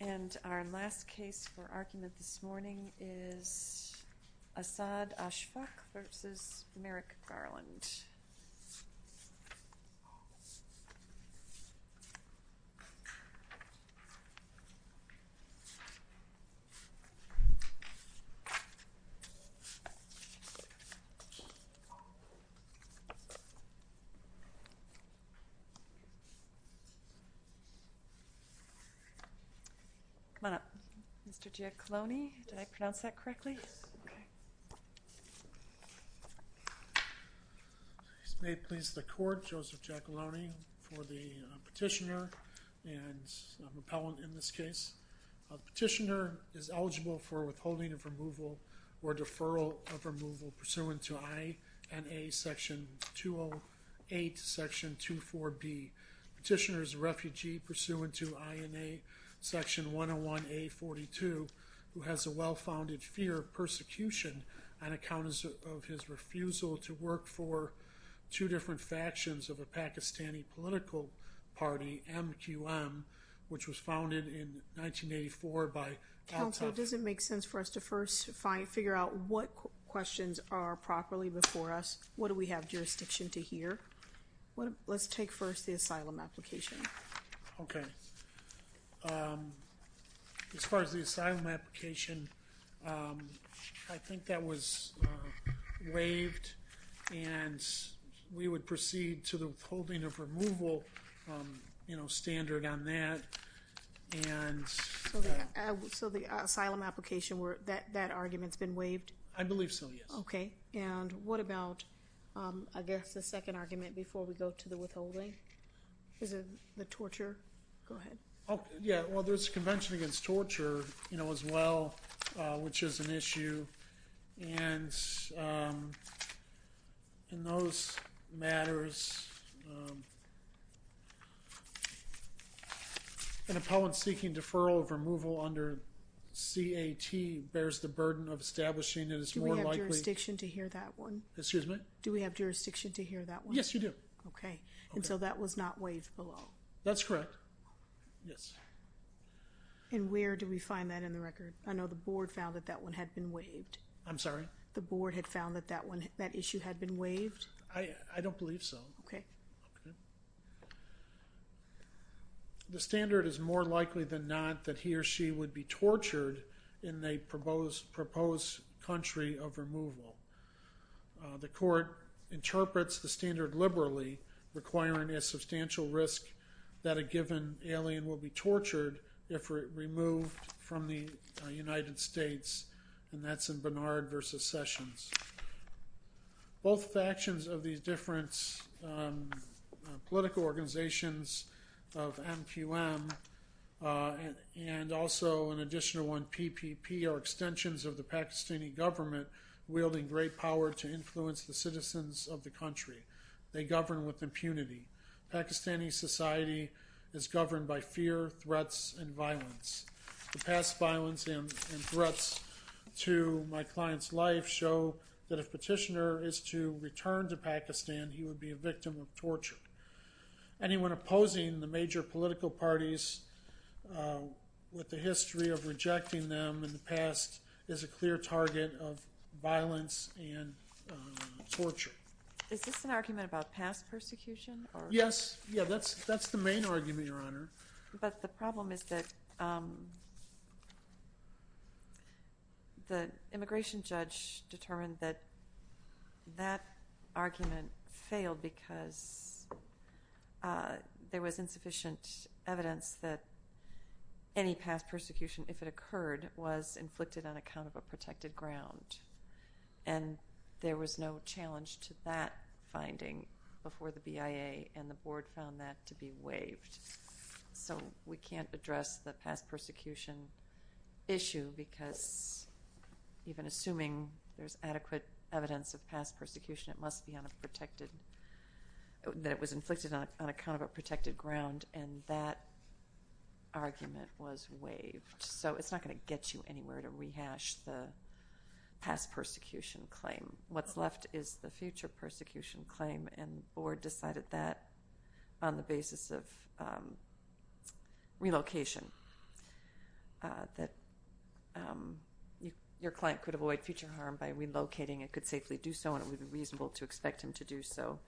And our last case for argument this morning is Asad Ashfaq v. Merrick Garland. Come on up. Mr. Giacalone, did I pronounce that correctly? Yes. Okay. May it please the court, Joseph Giacalone for the petitioner and repellent in this case. Petitioner is eligible for withholding of removal or deferral of removal pursuant to INA section 208 section 24B. Petitioner is a refugee pursuant to INA section 101A.42 who has a well-founded fear of persecution on account of his refusal to work for two different factions of a Pakistani political party, MQM, which was founded in 1984 by Abtaf. Counsel, does it make sense for us to first figure out what questions are properly before us? What do we have jurisdiction to hear? Let's take first the asylum application. Okay. As far as the asylum application, I think that was waived and we would proceed to the withholding of removal standard on that. So the asylum application, that argument's been waived? I believe so, yes. Okay. And what about, I guess, the second argument before we go to the withholding? Is it the torture? Go ahead. Yeah. Well, there's a convention against torture, you know, as well, which is an issue. And in those matters, an appellant seeking deferral of removal under CAT bears the burden of establishing Do we have jurisdiction to hear that one? Excuse me? Do we have jurisdiction to hear that one? Yes, you do. Okay. And so that was not waived below? That's correct. Yes. And where do we find that in the record? I know the board found that that one had been waived. I'm sorry? The board had found that that issue had been waived? I don't believe so. Okay. The standard is more likely than not that he or she would be tortured in a proposed country of removal. The court interprets the standard liberally, requiring a substantial risk that a given alien will be tortured if removed from the United States, and that's in Barnard v. Sessions. Both factions of these different political organizations of MQM and also an additional one, PPP, are extensions of the Pakistani government, wielding great power to influence the citizens of the country. They govern with impunity. Pakistani society is governed by fear, threats, and violence. The past violence and threats to my client's life show that if Petitioner is to return to Pakistan, he would be a victim of torture. Anyone opposing the major political parties with the history of rejecting them in the past is a clear target of violence and torture. Is this an argument about past persecution? Yeah, that's the main argument, Your Honor. But the problem is that the immigration judge determined that that argument failed because there was insufficient evidence that any past persecution, if it occurred, was inflicted on account of a protected ground, and there was no challenge to that finding before the So we can't address the past persecution issue because even assuming there's adequate evidence of past persecution, it must be on a protected – that it was inflicted on account of a protected ground, and that argument was waived. So it's not going to get you anywhere to rehash the past persecution claim. What's left is the future persecution claim, and the board decided that on the basis of relocation, that your client could avoid future harm by relocating and could safely do so and it would be reasonable to expect him to do so.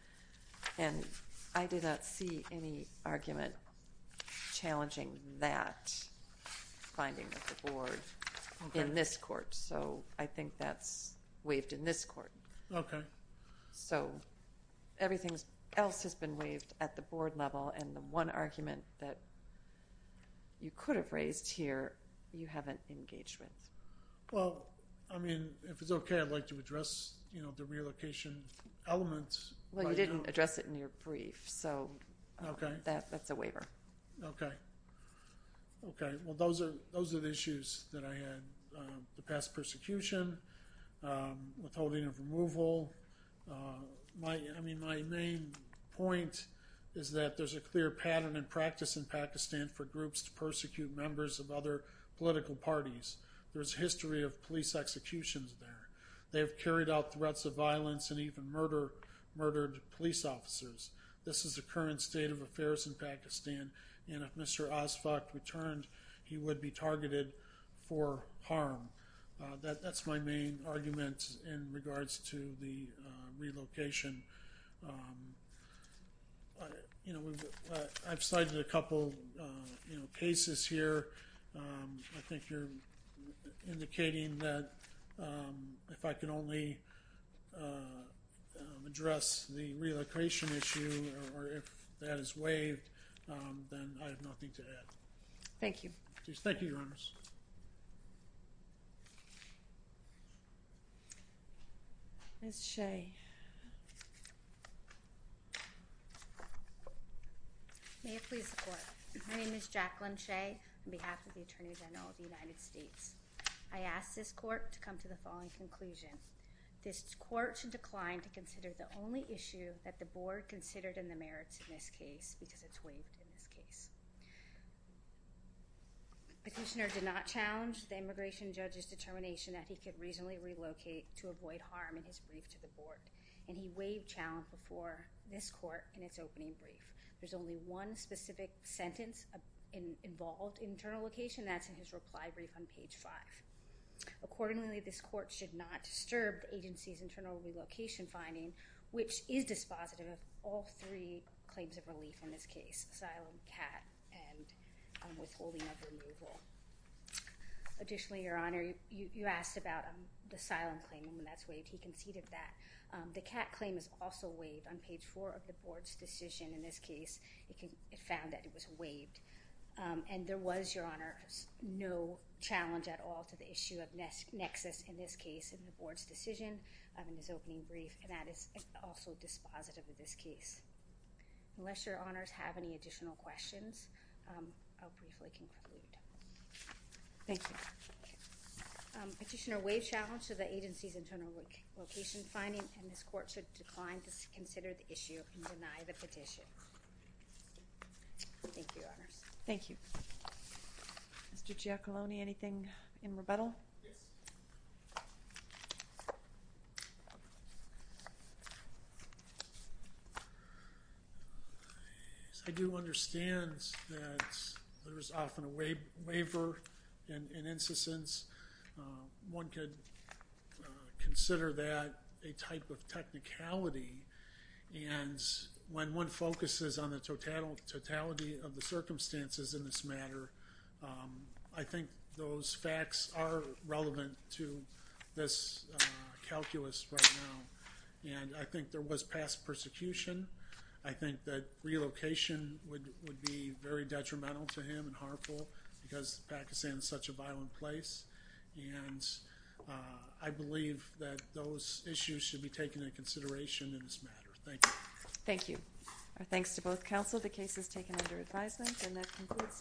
And I did not see any argument challenging that finding of the board in this court. So I think that's waived in this court. Okay. So everything else has been waived at the board level, and the one argument that you could have raised here you haven't engaged with. Well, I mean, if it's okay, I'd like to address the relocation element. Well, you didn't address it in your brief, so that's a waiver. Okay. Okay. Well, those are the issues that I had. The past persecution, withholding of removal. I mean, my main point is that there's a clear pattern and practice in Pakistan for groups to persecute members of other political parties. There's a history of police executions there. They have carried out threats of violence and even murdered police officers. This is the current state of affairs in Pakistan. And if Mr. Asfaq returned, he would be targeted for harm. That's my main argument in regards to the relocation. You know, I've cited a couple cases here. I think you're indicating that if I can only address the relocation issue or if that is waived, then I have nothing to add. Thank you. Thank you, Your Honors. Ms. Shea. May it please the Court. My name is Jacqueline Shea on behalf of the Attorney General of the United States. I ask this Court to come to the following conclusion. This Court should decline to consider the only issue that the Board considered in the merits in this case because it's waived in this case. Petitioner did not challenge the immigration judge's determination that he could reasonably relocate to avoid harm in his brief to the Board. And he waived challenge before this Court in its opening brief. There's only one specific sentence involved in internal location, and that's in his reply brief on page 5. Accordingly, this Court should not disturb the agency's internal relocation finding, which is dispositive of all three claims of relief in this case, asylum, CAT, and withholding of removal. Additionally, Your Honor, you asked about the asylum claim, and that's waived. He conceded that. The CAT claim is also waived. On page 4 of the Board's decision in this case, it found that it was waived. And there was, Your Honor, no challenge at all to the issue of nexus in this case in the Board's decision in his opening brief, and that is also dispositive of this case. Unless Your Honors have any additional questions, I'll briefly conclude. Thank you. Petitioner waived challenge to the agency's internal location finding, and this Court should decline to consider the issue and deny the petition. Thank you, Your Honors. Thank you. Mr. Giacalone, anything in rebuttal? Yes. I do understand that there is often a waiver in incessance. One could consider that a type of technicality, and when one focuses on the totality of the this calculus right now, and I think there was past persecution. I think that relocation would be very detrimental to him and harmful because Pakistan is such a violent place, and I believe that those issues should be taken into consideration in this matter. Thank you. Thank you. Our thanks to both counsel. The case is taken under advisement, and that concludes today's hearing.